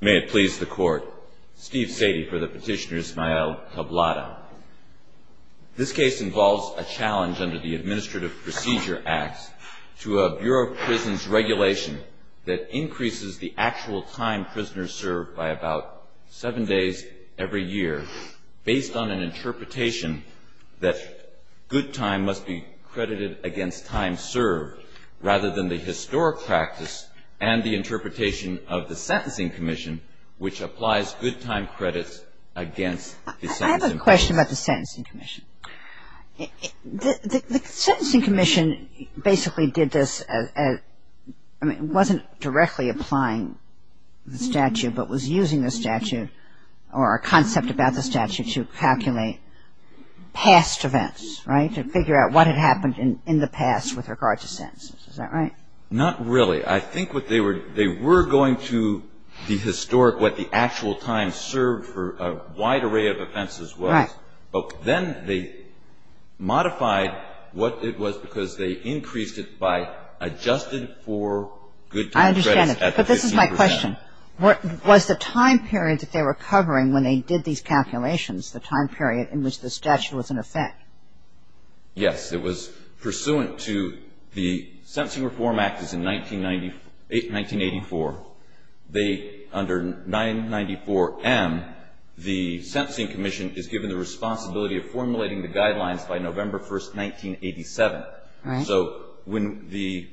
May it please the Court. Steve Sadie for the Petitioner's Mael Tablada. This case involves a challenge under the Administrative Procedure Act to a Bureau of Prisons regulation that increases the actual time prisoners serve by about seven days every year, based on an interpretation that good time must be credited against time served, rather than the historic practice and the interpretation of the Sentencing Commission, which applies good time credits against the Sentencing Commission. I have a question about the Sentencing Commission. The Sentencing Commission basically did this as, I mean, it wasn't directly applying the statute, but was using the statute or a concept about the statute to calculate past events, right, to figure out what had happened in the past with regard to sentences. Is that right? Not really. I think what they were, they were going to the historic, what the actual time served for a wide array of offenses was. Right. But then they modified what it was because they increased it by adjusted for good time credits. I understand it. But this is my question. Was the time period that they were covering when they did these calculations, the time period in which the statute was in effect? Yes. It was pursuant to the Sentencing Reform Act is in 1984. They, under 994M, the Sentencing Commission is given the responsibility of formulating the guidelines by November 1, 1987. Right. So when the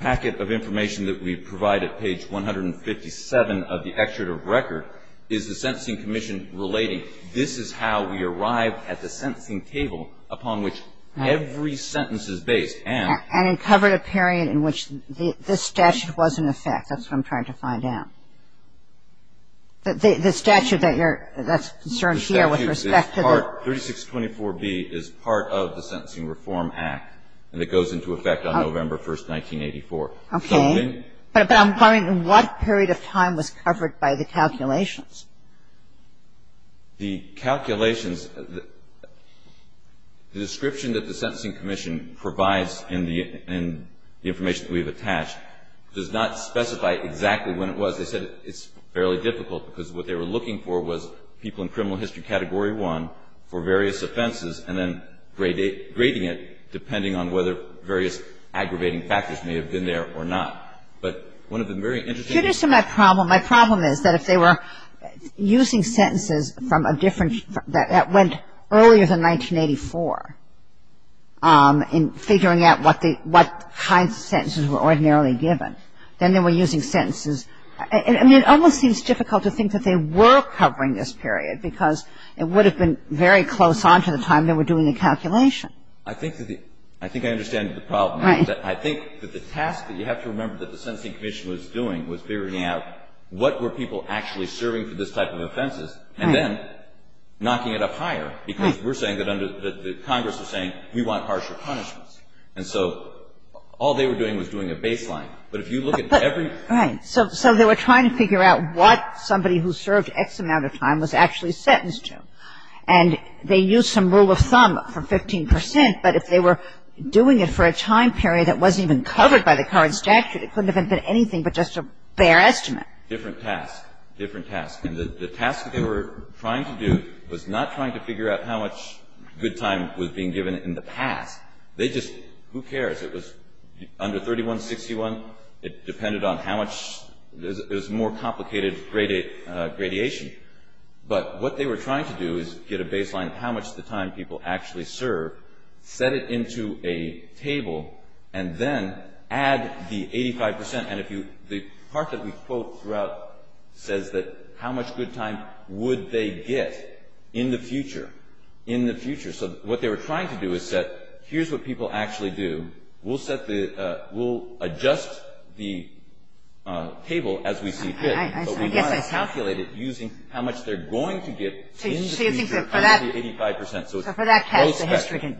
packet of information that we provide at page 157 of the Sentencing Reform Act is in effect, that's what I'm trying to find out. The statute that you're, that's concerned here with respect to the 3624B is part of the Sentencing Reform Act, and it goes into effect on November 1, 1984. Okay. But I'm wondering in what period of time was covered by the calculations? The calculations, the description that the Sentencing Commission provides in the information that we've attached does not specify exactly when it was. They said it's fairly difficult because what they were looking for was people in criminal history category one for various offenses and then grading it depending on whether various aggravating factors may have been there or not. But one of the very interesting My problem is that if they were using sentences from a different, that went earlier than 1984 in figuring out what they, what kinds of sentences were ordinarily given, then they were using sentences. I mean, it almost seems difficult to think that they were covering this period because it would have been very close on to the time they were doing the calculation. I think that the, I think I understand the problem. Right. I think that the task that you have to remember that the Sentencing Commission was doing was figuring out what were people actually serving for this type of offenses and then knocking it up higher because we're saying that under, that Congress was saying we want harsher punishments. And so all they were doing was doing a baseline. But if you look at every Right. So they were trying to figure out what somebody who served X amount of time was actually sentenced to. And they used some rule of thumb for 15 percent, but if they were doing it for a time period that wasn't even covered by the current statute, it couldn't have been anything but just a bare estimate. Different task. Different task. And the task that they were trying to do was not trying to figure out how much good time was being given in the past. They just, who cares? It was under 3161. It depended on how much, it was more complicated gradation. But what they were trying to do is get a baseline of how much the time people actually served, set it into a table, and then add the 85 percent. And if you, the part that we quote throughout says that how much good time would they get in the future, in the future. So what they were trying to do is set, here's what people actually do. We'll set the, we'll adjust the table as we see fit. But we want to calculate it using how much they're going to get in the future under the 85 percent. So it's prospective.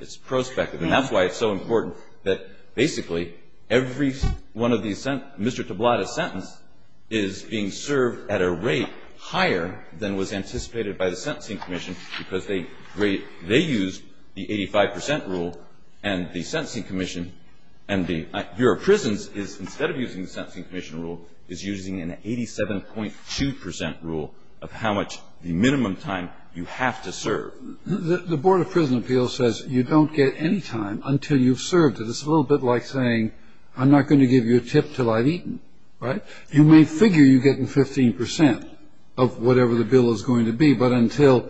It's prospective. And that's why it's so important that basically every one of these, Mr. Tablada's sentence is being served at a rate higher than was anticipated by the Sentencing Commission because they used the 85 percent rule and the Sentencing Commission and the Board of Prisons is, instead of using the Sentencing Commission rule, is using an 87.2 percent rule of how much the minimum time you have to serve. The Board of Prison Appeals says you don't get any time until you've served it. It's a little bit like saying I'm not going to give you a tip until I've eaten. Right? You may figure you're getting 15 percent of whatever the bill is going to be, but until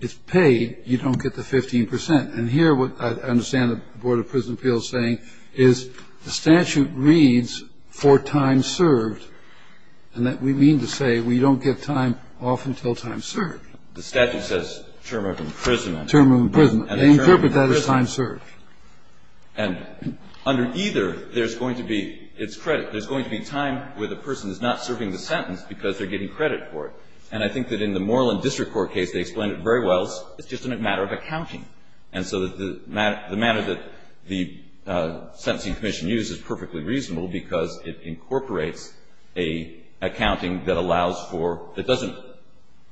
it's paid, you don't get the 15 percent. And here what I understand the Board of Prison Appeals saying is the statute reads for time served and that we mean to say we don't get time off until time served. The statute says term of imprisonment. Term of imprisonment. And they interpret that as time served. And under either, there's going to be, it's credit, there's going to be time where the person is not serving the sentence because they're getting credit for it. And I think that in the Moreland District Court case, they explained it very well. It's just a matter of accounting. And so the matter that the Sentencing Commission used is perfectly reasonable because it incorporates an accounting that allows for, that doesn't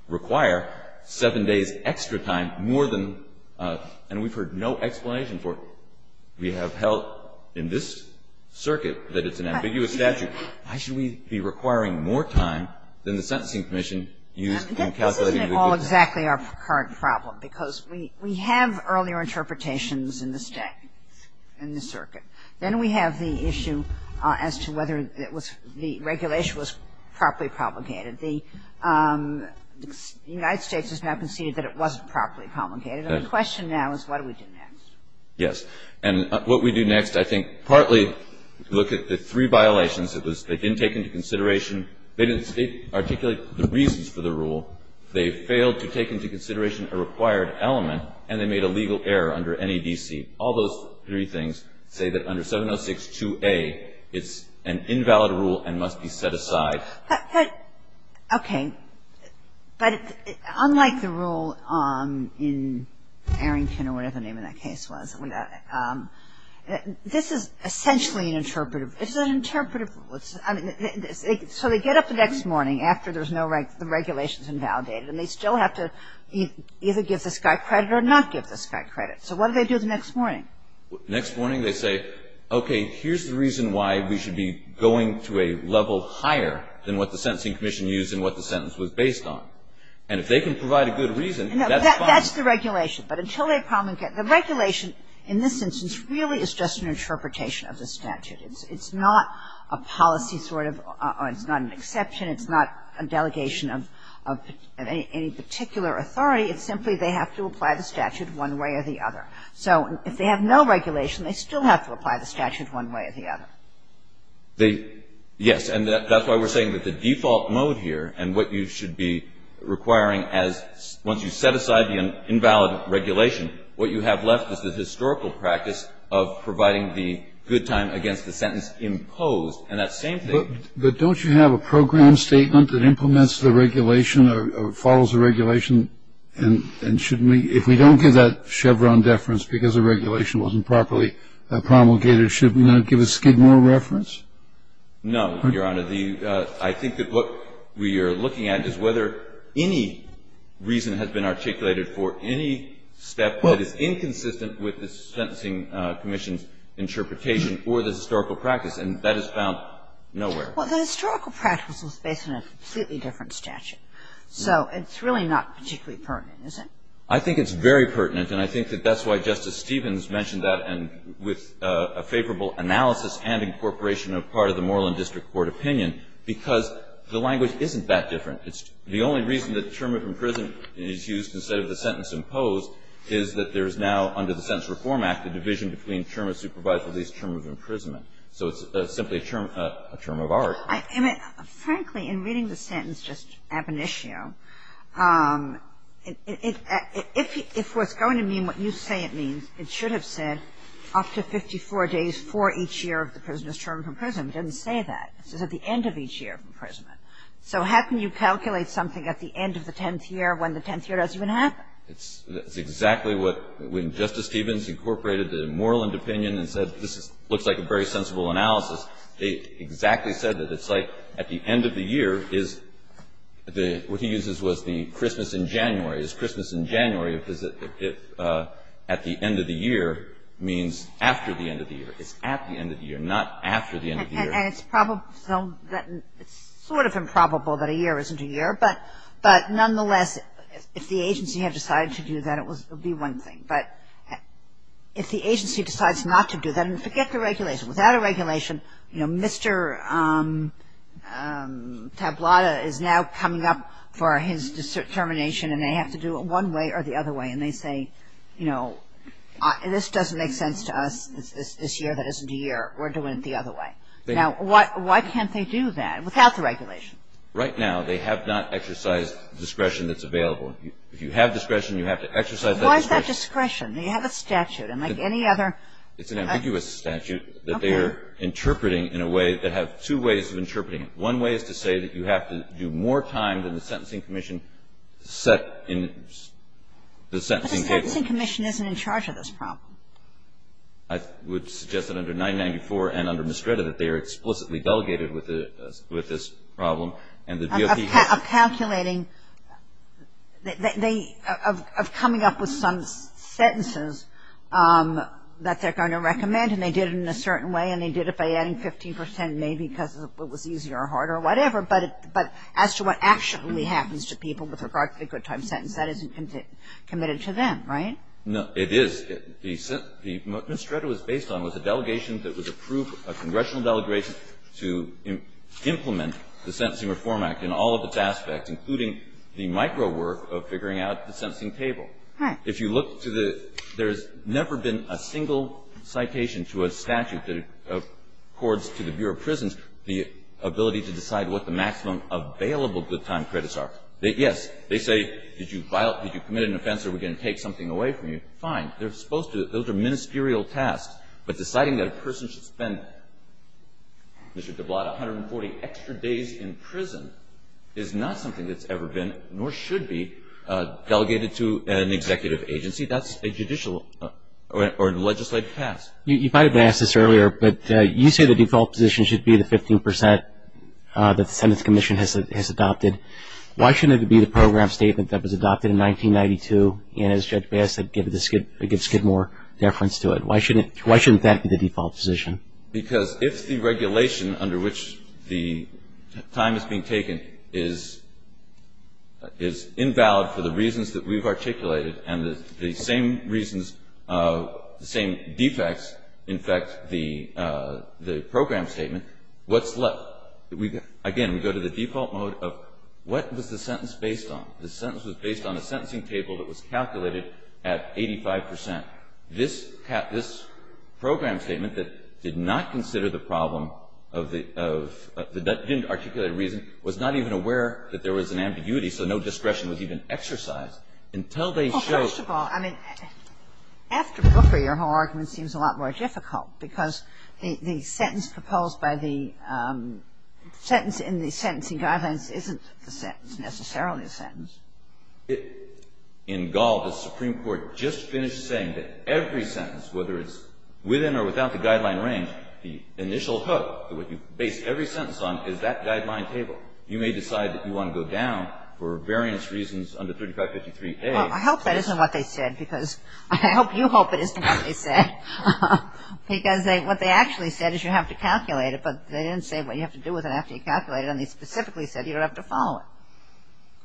require, seven days extra time more than, and we've heard no explanation for it. We have held in this circuit that it's an ambiguous statute. Why should we be requiring more time than the Sentencing Commission used in calculating the time? This isn't at all exactly our current problem because we have earlier interpretations in the state, in the circuit. Then we have the issue as to whether it was, the regulation was properly promulgated. The United States has now conceded that it wasn't properly promulgated. And the question now is what do we do next? Yes. And what we do next, I think, partly look at the three violations. It was they didn't take into consideration, they didn't articulate the reasons for the rule, they failed to take into consideration a required element, and they made a legal error under NEDC. All those three things say that under 706-2A, it's an invalid rule and must be set aside. Okay. But unlike the rule in Arrington or whatever the name of that case was, this is essentially an interpretive, it's an interpretive, so they get up the next morning after there's no, the regulation's invalidated and they still have to either give this guy credit or not give this guy credit. So what do they do the next morning? Next morning they say, okay, here's the reason why we should be going to a level higher than what the Sentencing Commission used and what the sentence was based on. And if they can provide a good reason, that's fine. That's the regulation. But until they promulgate, the regulation in this instance really is just an interpretation of the statute. It's not a policy sort of or it's not an exception. It's not a delegation of any particular authority. It's simply they have to apply the statute one way or the other. So if they have no regulation, they still have to apply the statute one way or the other. They, yes, and that's why we're saying that the default mode here and what you should be requiring as once you set aside the invalid regulation, what you have left is the historical practice of providing the good time against the sentence imposed. And that same thing. But don't you have a program statement that implements the regulation or follows the regulation and shouldn't we, if we don't give that Chevron deference because the regulation wasn't properly promulgated, should we not give a Skidmore reference? No, Your Honor. I think that what we are looking at is whether any reason has been articulated for any step that is inconsistent with the Sentencing Commission's interpretation or the historical practice. And that is found nowhere. Well, the historical practice was based on a completely different statute. So it's really not particularly pertinent, is it? I think it's very pertinent, and I think that that's why Justice Stevens mentioned that and with a favorable analysis and incorporation of part of the Moreland District Court opinion, because the language isn't that different. It's the only reason that term of imprisonment is used instead of the sentence imposed is that there is now under the Sentence Reform Act a division between term of supervised release, term of imprisonment. So it's simply a term of art. I mean, frankly, in reading the sentence just ab initio, if what's going to mean what you say it means, it should have said up to 54 days for each year of the prisoner's term of imprisonment. It didn't say that. It says at the end of each year of imprisonment. So how can you calculate something at the end of the tenth year when the tenth year doesn't even happen? It's exactly what when Justice Stevens incorporated the Moreland opinion and said this looks like a very sensible analysis. They exactly said that. It's like at the end of the year is the what he uses was the Christmas in January. Is Christmas in January if at the end of the year means after the end of the year. It's at the end of the year, not after the end of the year. And it's probable that it's sort of improbable that a year isn't a year. But nonetheless, if the agency had decided to do that, it would be one thing. But if the agency decides not to do that, forget the regulation. Without a regulation, you know, Mr. Tablada is now coming up for his determination and they have to do it one way or the other way. And they say, you know, this doesn't make sense to us. This year, that isn't a year. We're doing it the other way. Now, why can't they do that without the regulation? Right now, they have not exercised discretion that's available. If you have discretion, you have to exercise that discretion. You have a statute, unlike any other. It's an ambiguous statute that they are interpreting in a way that have two ways of interpreting it. One way is to say that you have to do more time than the sentencing commission set in the sentencing table. But the sentencing commission isn't in charge of this problem. I would suggest that under 994 and under Mestreda that they are explicitly delegated with this problem. Of calculating, of coming up with some sentences that they're going to recommend and they did it in a certain way and they did it by adding 15 percent maybe because it was easier or harder or whatever. But as to what actually happens to people with regard to the good time sentence, that isn't committed to them, right? No, it is. The Mestreda was based on was a delegation that was approved, a congressional delegation to implement the Sentencing Reform Act in all of its aspects, including the micro work of figuring out the sentencing table. If you look to the – there's never been a single citation to a statute that accords to the Bureau of Prisons the ability to decide what the maximum available good time credits are. Yes, they say, did you violate – did you commit an offense or are we going to take something away from you? They're supposed to. Those are ministerial tasks. But deciding that a person should spend, Mr. DeBlatt, 140 extra days in prison is not something that's ever been nor should be delegated to an executive agency. That's a judicial or legislative task. You might have asked this earlier, but you say the default position should be the 15 percent that the Sentence Commission has adopted. Why shouldn't it be the program statement that was adopted in 1992 and as Judge Bass said, gives good more deference to it? Why shouldn't that be the default position? Because if the regulation under which the time is being taken is invalid for the reasons that we've articulated and the same reasons, the same defects, in fact, the program statement, what's left? Again, we go to the default mode of what was the sentence based on? The sentence was based on a sentencing table that was calculated at 85 percent. This program statement that did not consider the problem of the – didn't articulate a reason, was not even aware that there was an ambiguity, so no discretion was even exercised until they showed – Well, first of all, I mean, after Booker, your whole argument seems a lot more difficult because the sentence proposed by the – the sentence in the sentencing guidelines isn't necessarily a sentence. In Gall, the Supreme Court just finished saying that every sentence, whether it's within or without the guideline range, the initial hook, what you base every sentence on, is that guideline table. You may decide that you want to go down for various reasons under 3553A. I hope that isn't what they said because I hope you hope it isn't what they said. Because what they actually said is you have to calculate it, but they didn't say what you have to do with it after you calculate it, and they specifically said you don't have to follow it.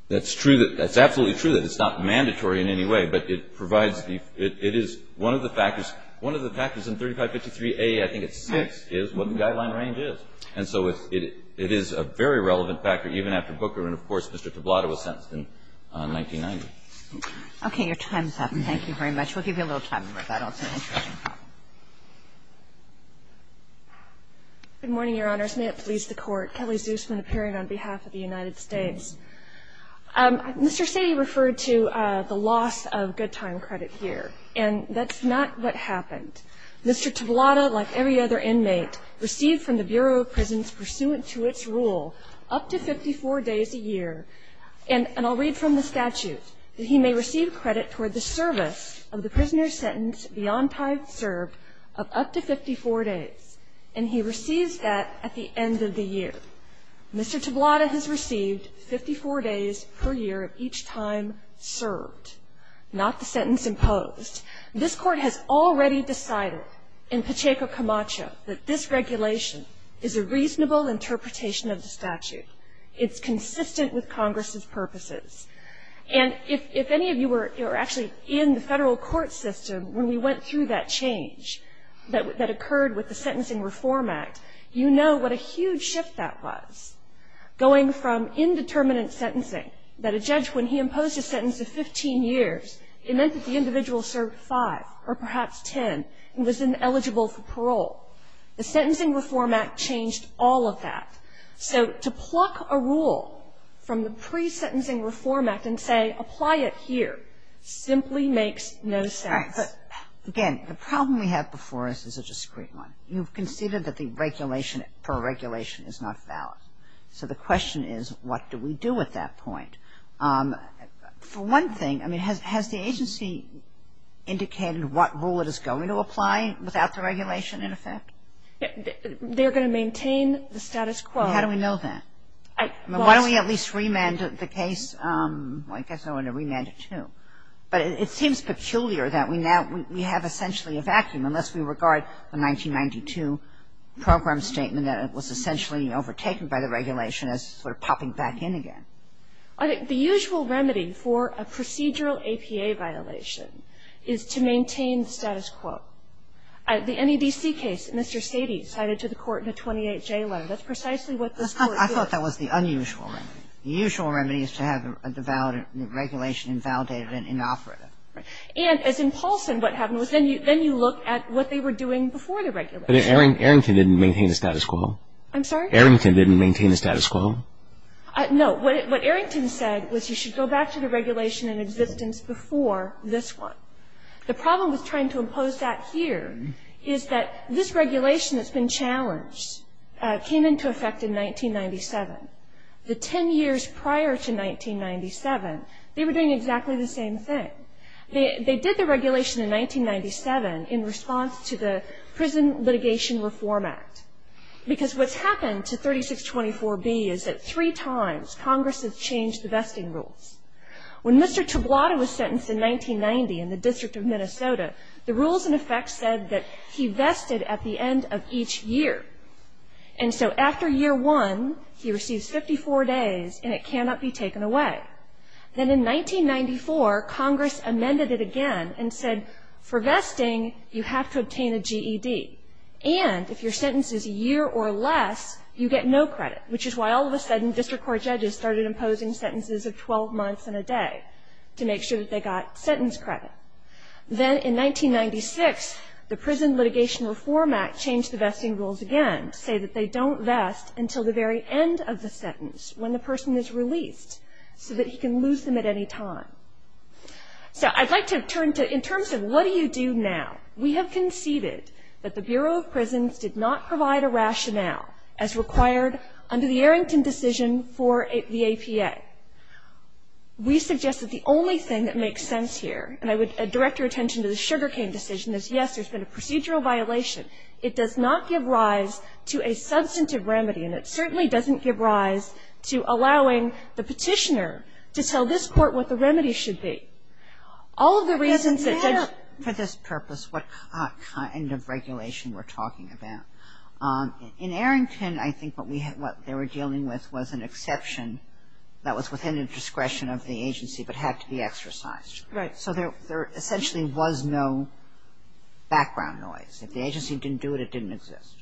That's true. That's absolutely true that it's not mandatory in any way, but it provides the – it is one of the factors – one of the factors in 3553A, I think it's 6, is what the guideline range is. And so it is a very relevant factor, even after Booker, and, of course, Mr. Tablada was sentenced in 1990. Okay. Your time is up. Thank you very much. We'll give you a little time for that also. Good morning, Your Honors. May it please the Court. Kelly Zusman appearing on behalf of the United States. Mr. Sady referred to the loss of good time credit here, and that's not what happened. Mr. Tablada, like every other inmate, received from the Bureau of Prisons, pursuant to its rule, up to 54 days a year, and I'll read from the statute, that he may receive credit toward the service of the prisoner's sentence, beyond time served, of up to 54 days. And he receives that at the end of the year. Mr. Tablada has received 54 days per year of each time served, not the sentence imposed. This Court has already decided in Pacheco Camacho that this regulation is a reasonable It's consistent with Congress's purposes. And if any of you were actually in the federal court system when we went through that change that occurred with the Sentencing Reform Act, you know what a huge shift that was. Going from indeterminate sentencing, that a judge, when he imposed a sentence of 15 years, it meant that the individual served five, or perhaps ten, and was then eligible for parole. The Sentencing Reform Act changed all of that. So to pluck a rule from the Presentencing Reform Act and say, apply it here, simply makes no sense. But, again, the problem we have before us is a discreet one. You've conceded that the regulation, parole regulation, is not valid. So the question is, what do we do at that point? For one thing, I mean, has the agency indicated what rule it is going to apply without the regulation, in effect? They're going to maintain the status quo. How do we know that? Why don't we at least remand the case? I guess I want to remand it, too. But it seems peculiar that we now we have essentially a vacuum, unless we regard the 1992 program statement that it was essentially overtaken by the regulation as sort of popping back in again. The usual remedy for a procedural APA violation is to maintain the status quo. The NEDC case, Mr. Sadie cited to the Court in a 28-J letter. That's precisely what this Court did. I thought that was the unusual remedy. The usual remedy is to have the valid regulation invalidated and inoperative. Right. And as in Paulson, what happened was then you look at what they were doing before the regulation. But Arrington didn't maintain the status quo. I'm sorry? Arrington didn't maintain the status quo. No. What Arrington said was you should go back to the regulation in existence before this one. The problem with trying to impose that here is that this regulation that's been challenged came into effect in 1997. The ten years prior to 1997, they were doing exactly the same thing. They did the regulation in 1997 in response to the Prison Litigation Reform Act. Because what's happened to 3624B is that three times Congress has changed the vesting rules. When Mr. Tablada was sentenced in 1990 in the District of Minnesota, the rules in effect said that he vested at the end of each year. And so after year one, he receives 54 days and it cannot be taken away. Then in 1994, Congress amended it again and said for vesting, you have to obtain a GED. And if your sentence is a year or less, you get no credit, which is why all of a sudden, you have to do it once in a day to make sure that they got sentence credit. Then in 1996, the Prison Litigation Reform Act changed the vesting rules again to say that they don't vest until the very end of the sentence when the person is released so that he can lose them at any time. So I'd like to turn to in terms of what do you do now. We have conceded that the Bureau of Prisons did not provide a rationale as to what the remedy should be. We suggest that the only thing that makes sense here, and I would direct your attention to the sugar cane decision, is, yes, there's been a procedural violation. It does not give rise to a substantive remedy, and it certainly doesn't give rise to allowing the Petitioner to tell this Court what the remedy should be. All of the reasons that judge ---- Kagan for this purpose, what kind of regulation we're talking about. In Arrington, I think what they were dealing with was an exception that was within the discretion of the agency but had to be exercised. Right. So there essentially was no background noise. If the agency didn't do it, it didn't exist.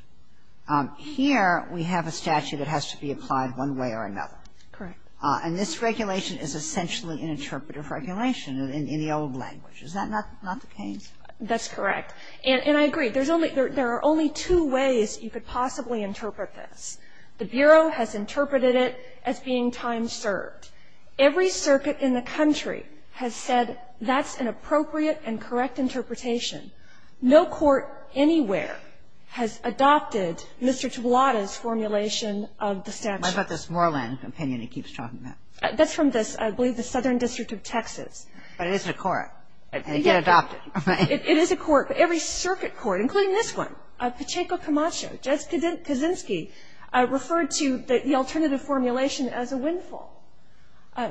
Here, we have a statute that has to be applied one way or another. Correct. And this regulation is essentially an interpretive regulation in the old language. Is that not the case? That's correct. And I agree. There's only ---- there are only two ways you could possibly interpret this. The Bureau has interpreted it as being time-served. Every circuit in the country has said that's an appropriate and correct interpretation. No court anywhere has adopted Mr. Tablada's formulation of the statute. What about this Moorland opinion he keeps talking about? That's from this, I believe, the Southern District of Texas. But it is a court. And it got adopted. It is a court. Every circuit court, including this one, Pacheco Camacho, Judge Kaczynski, referred to the alternative formulation as a windfall.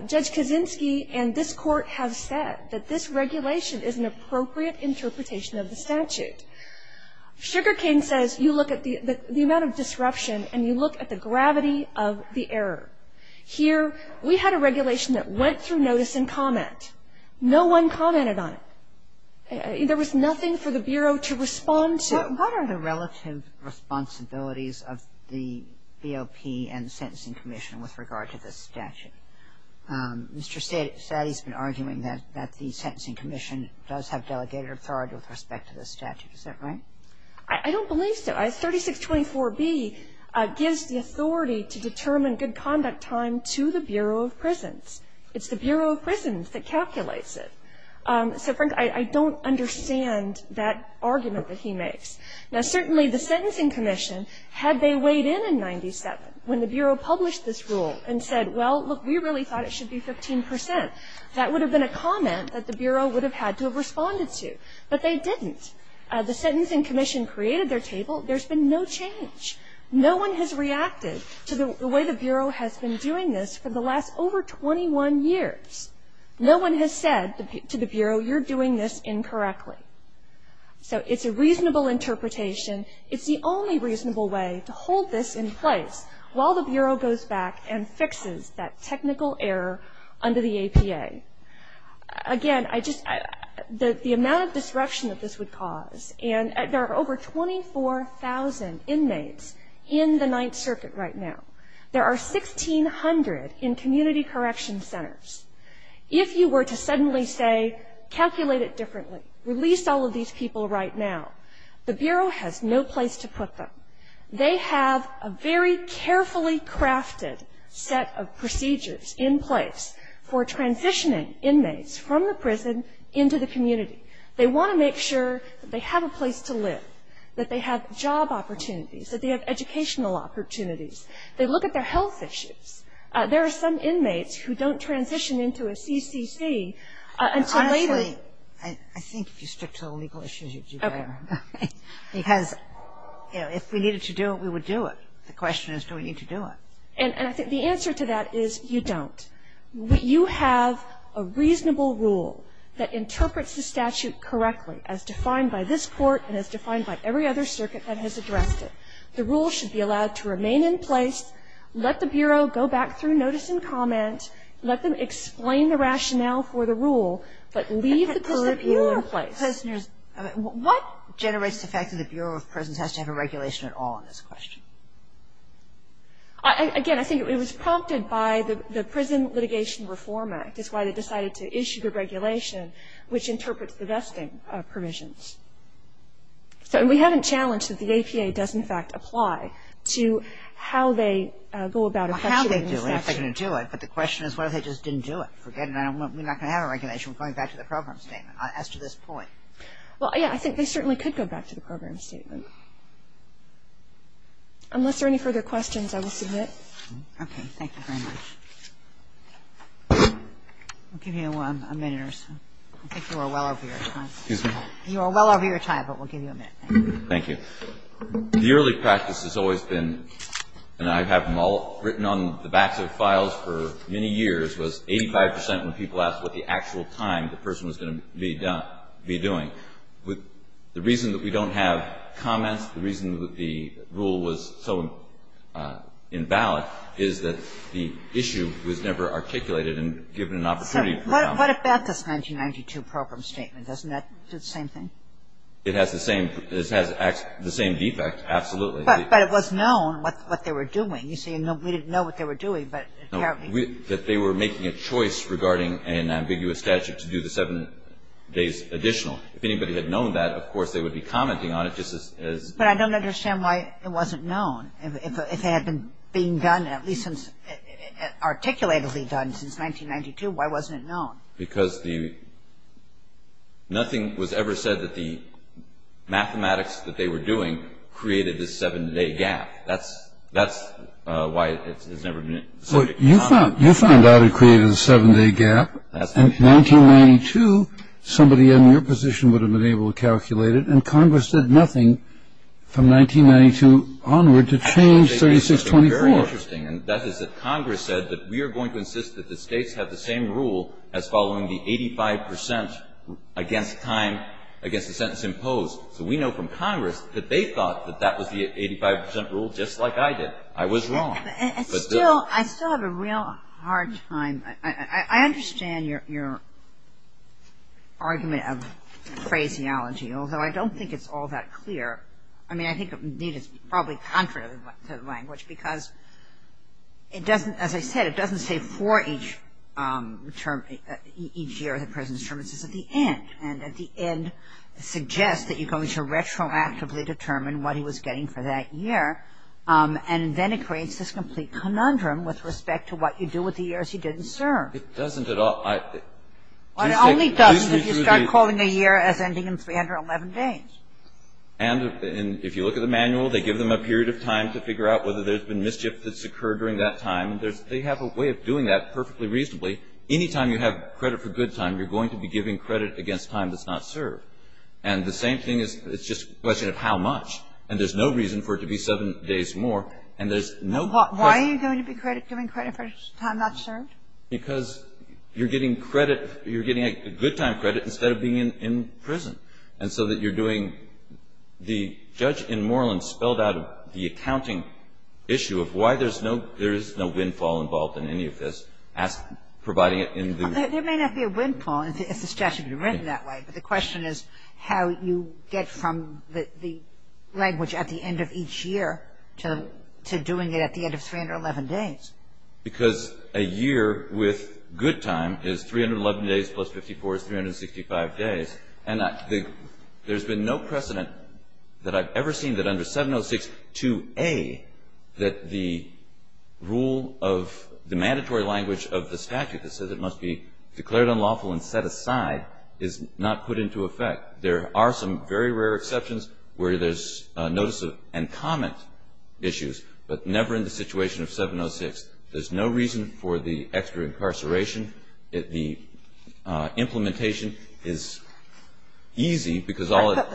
Judge Kaczynski and this court have said that this regulation is an appropriate interpretation of the statute. Sugar King says you look at the amount of disruption and you look at the gravity of the error. Here, we had a regulation that went through notice and comment. No one commented on it. There was nothing for the Bureau to respond to. Kagan. What are the relative responsibilities of the BOP and the Sentencing Commission with regard to this statute? Mr. Satti has been arguing that the Sentencing Commission does have delegated authority with respect to this statute. Is that right? I don't believe so. 3624B gives the authority to determine good conduct time to the Bureau of Prisons. It's the Bureau of Prisons that calculates it. So, Frank, I don't understand that argument that he makes. Now, certainly the Sentencing Commission, had they weighed in in 97, when the Bureau published this rule and said, well, look, we really thought it should be 15 percent, that would have been a comment that the Bureau would have had to have responded to. But they didn't. The Sentencing Commission created their table. There's been no change. No one has reacted to the way the Bureau has been doing this for the last over 21 years. No one has said to the Bureau, you're doing this incorrectly. So it's a reasonable interpretation. It's the only reasonable way to hold this in place while the Bureau goes back and fixes that technical error under the APA. Again, the amount of disruption that this would cause, and there are over 24,000 inmates in the Ninth Circuit right now. There are 1,600 in community correction centers. If you were to suddenly say, calculate it differently, release all of these people right now, the Bureau has no place to put them. They have a very carefully crafted set of procedures in place for transitioning inmates from the prison into the community. They want to make sure that they have a place to live, that they have job opportunities, that they have educational opportunities. They look at their health issues. There are some inmates who don't transition into a CCC until later. Honestly, I think if you stick to the legal issues, you'd do better. Okay. Because, you know, if we needed to do it, we would do it. The question is, do we need to do it? And I think the answer to that is, you don't. You have a reasonable rule that interprets the statute correctly as defined by this court and as defined by every other circuit that has addressed it. The rule should be allowed to remain in place. Let the Bureau go back through notice and comment. Let them explain the rationale for the rule, but leave the current rule in place. What generates the fact that the Bureau of Prisons has to have a regulation at all in this question? Again, I think it was prompted by the Prison Litigation Reform Act. It's why they decided to issue the regulation, which interprets the vesting provisions. So we haven't challenged that the APA does, in fact, apply to how they go about a question. Well, how they do it, if they're going to do it. But the question is, what if they just didn't do it? Forget it. We're not going to have a regulation. We're going back to the program statement as to this point. Well, yeah, I think they certainly could go back to the program statement. Unless there are any further questions, I will submit. Okay. Thank you very much. I'll give you a minute or so. I think you are well over your time. Excuse me? You are well over your time, but we'll give you a minute. Thank you. The early practice has always been, and I have written on the backs of files for many years, was 85 percent when people asked what the actual time the person was going to be doing. The reason that we don't have comments, the reason that the rule was so invalid, is that the issue was never articulated and given an opportunity for comment. What about this 1992 program statement? Doesn't that do the same thing? It has the same defect, absolutely. But it was known what they were doing. You say, no, we didn't know what they were doing, but apparently. That they were making a choice regarding an ambiguous statute to do the seven days additional. If anybody had known that, of course, they would be commenting on it just as... But I don't understand why it wasn't known. If it had been being done, at least since, articulatively done since 1992, why wasn't it known? Because nothing was ever said that the mathematics that they were doing created this seven-day gap. That's why it has never been... Well, you found out it created a seven-day gap. In 1992, somebody in your position would have been able to calculate it, and Congress did nothing from 1992 onward to change 3624. And that is that Congress said that we are going to insist that the States have the same rule as following the 85 percent against time, against the sentence imposed. So we know from Congress that they thought that that was the 85 percent rule, just like I did. I was wrong. But still... I still have a real hard time... I understand your argument of phraseology, although I don't think it's all that clear. I mean, I think, indeed, it's probably contrary to the language, because it doesn't, as I said, it doesn't say for each term, each year of the prison's term. It says at the end. And at the end, it suggests that you're going to retroactively determine what he was getting for that year. And then it creates this complete conundrum with respect to what you do with the years you didn't serve. It doesn't at all... It only doesn't if you start calling a year as ending in 311 days. And if you look at the manual, they give them a period of time to figure out whether there's been mischief that's occurred during that time. They have a way of doing that perfectly reasonably. Any time you have credit for good time, you're going to be giving credit against time that's not served. And the same thing is, it's just a question of how much. And there's no reason for it to be seven days more. And there's no... Why are you going to be giving credit for time not served? Because you're getting credit, you're getting a good time credit instead of being in prison. And so that you're doing the judge in Moreland spelled out the accounting issue of why there's no, there is no windfall involved in any of this, providing it in the... There may not be a windfall, if the statute had been written that way. But the question is how you get from the language at the end of each year to doing it at the end of 311 days. Because a year with good time is 311 days plus 54 is 365 days. And there's been no precedent that I've ever seen that under 706.2a, that the rule of the mandatory language of the statute that says it must be declared unlawful and set aside is not put into effect. There are some very rare exceptions where there's notice of and comment issues, but never in the situation of 706. There's no reason for the extra incarceration. The implementation is easy because all it...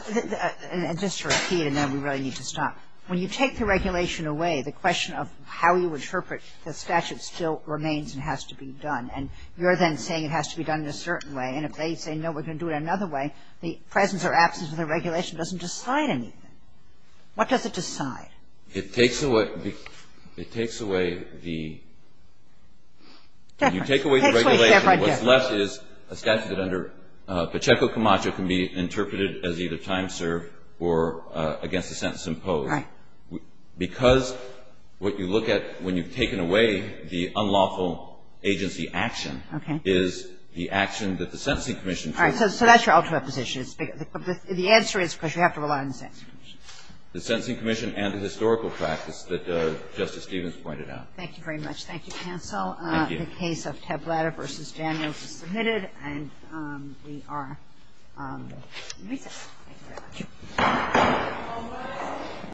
Just to repeat, and then we really need to stop. When you take the regulation away, the question of how you interpret the statute still remains and has to be done. And you're then saying it has to be done in a certain way. And if they say, no, we're going to do it another way, the presence or absence of the regulation doesn't decide anything. What does it decide? It takes away the... It takes away the right difference. What's left is a statute that under Pacheco Camacho can be interpreted as either time served or against the sentence imposed. Right. Because what you look at when you've taken away the unlawful agency action... Okay.... is the action that the Sentencing Commission... All right. So that's your ultimate position. The answer is because you have to rely on the Sentencing Commission. The Sentencing Commission and the historical practice that Justice Stevens pointed out. Thank you very much. Thank you, counsel. Thank you. The case of Tablata v. Daniels is submitted, and we are in recess. Thank you very much. Thank you. Thank you. Thank you.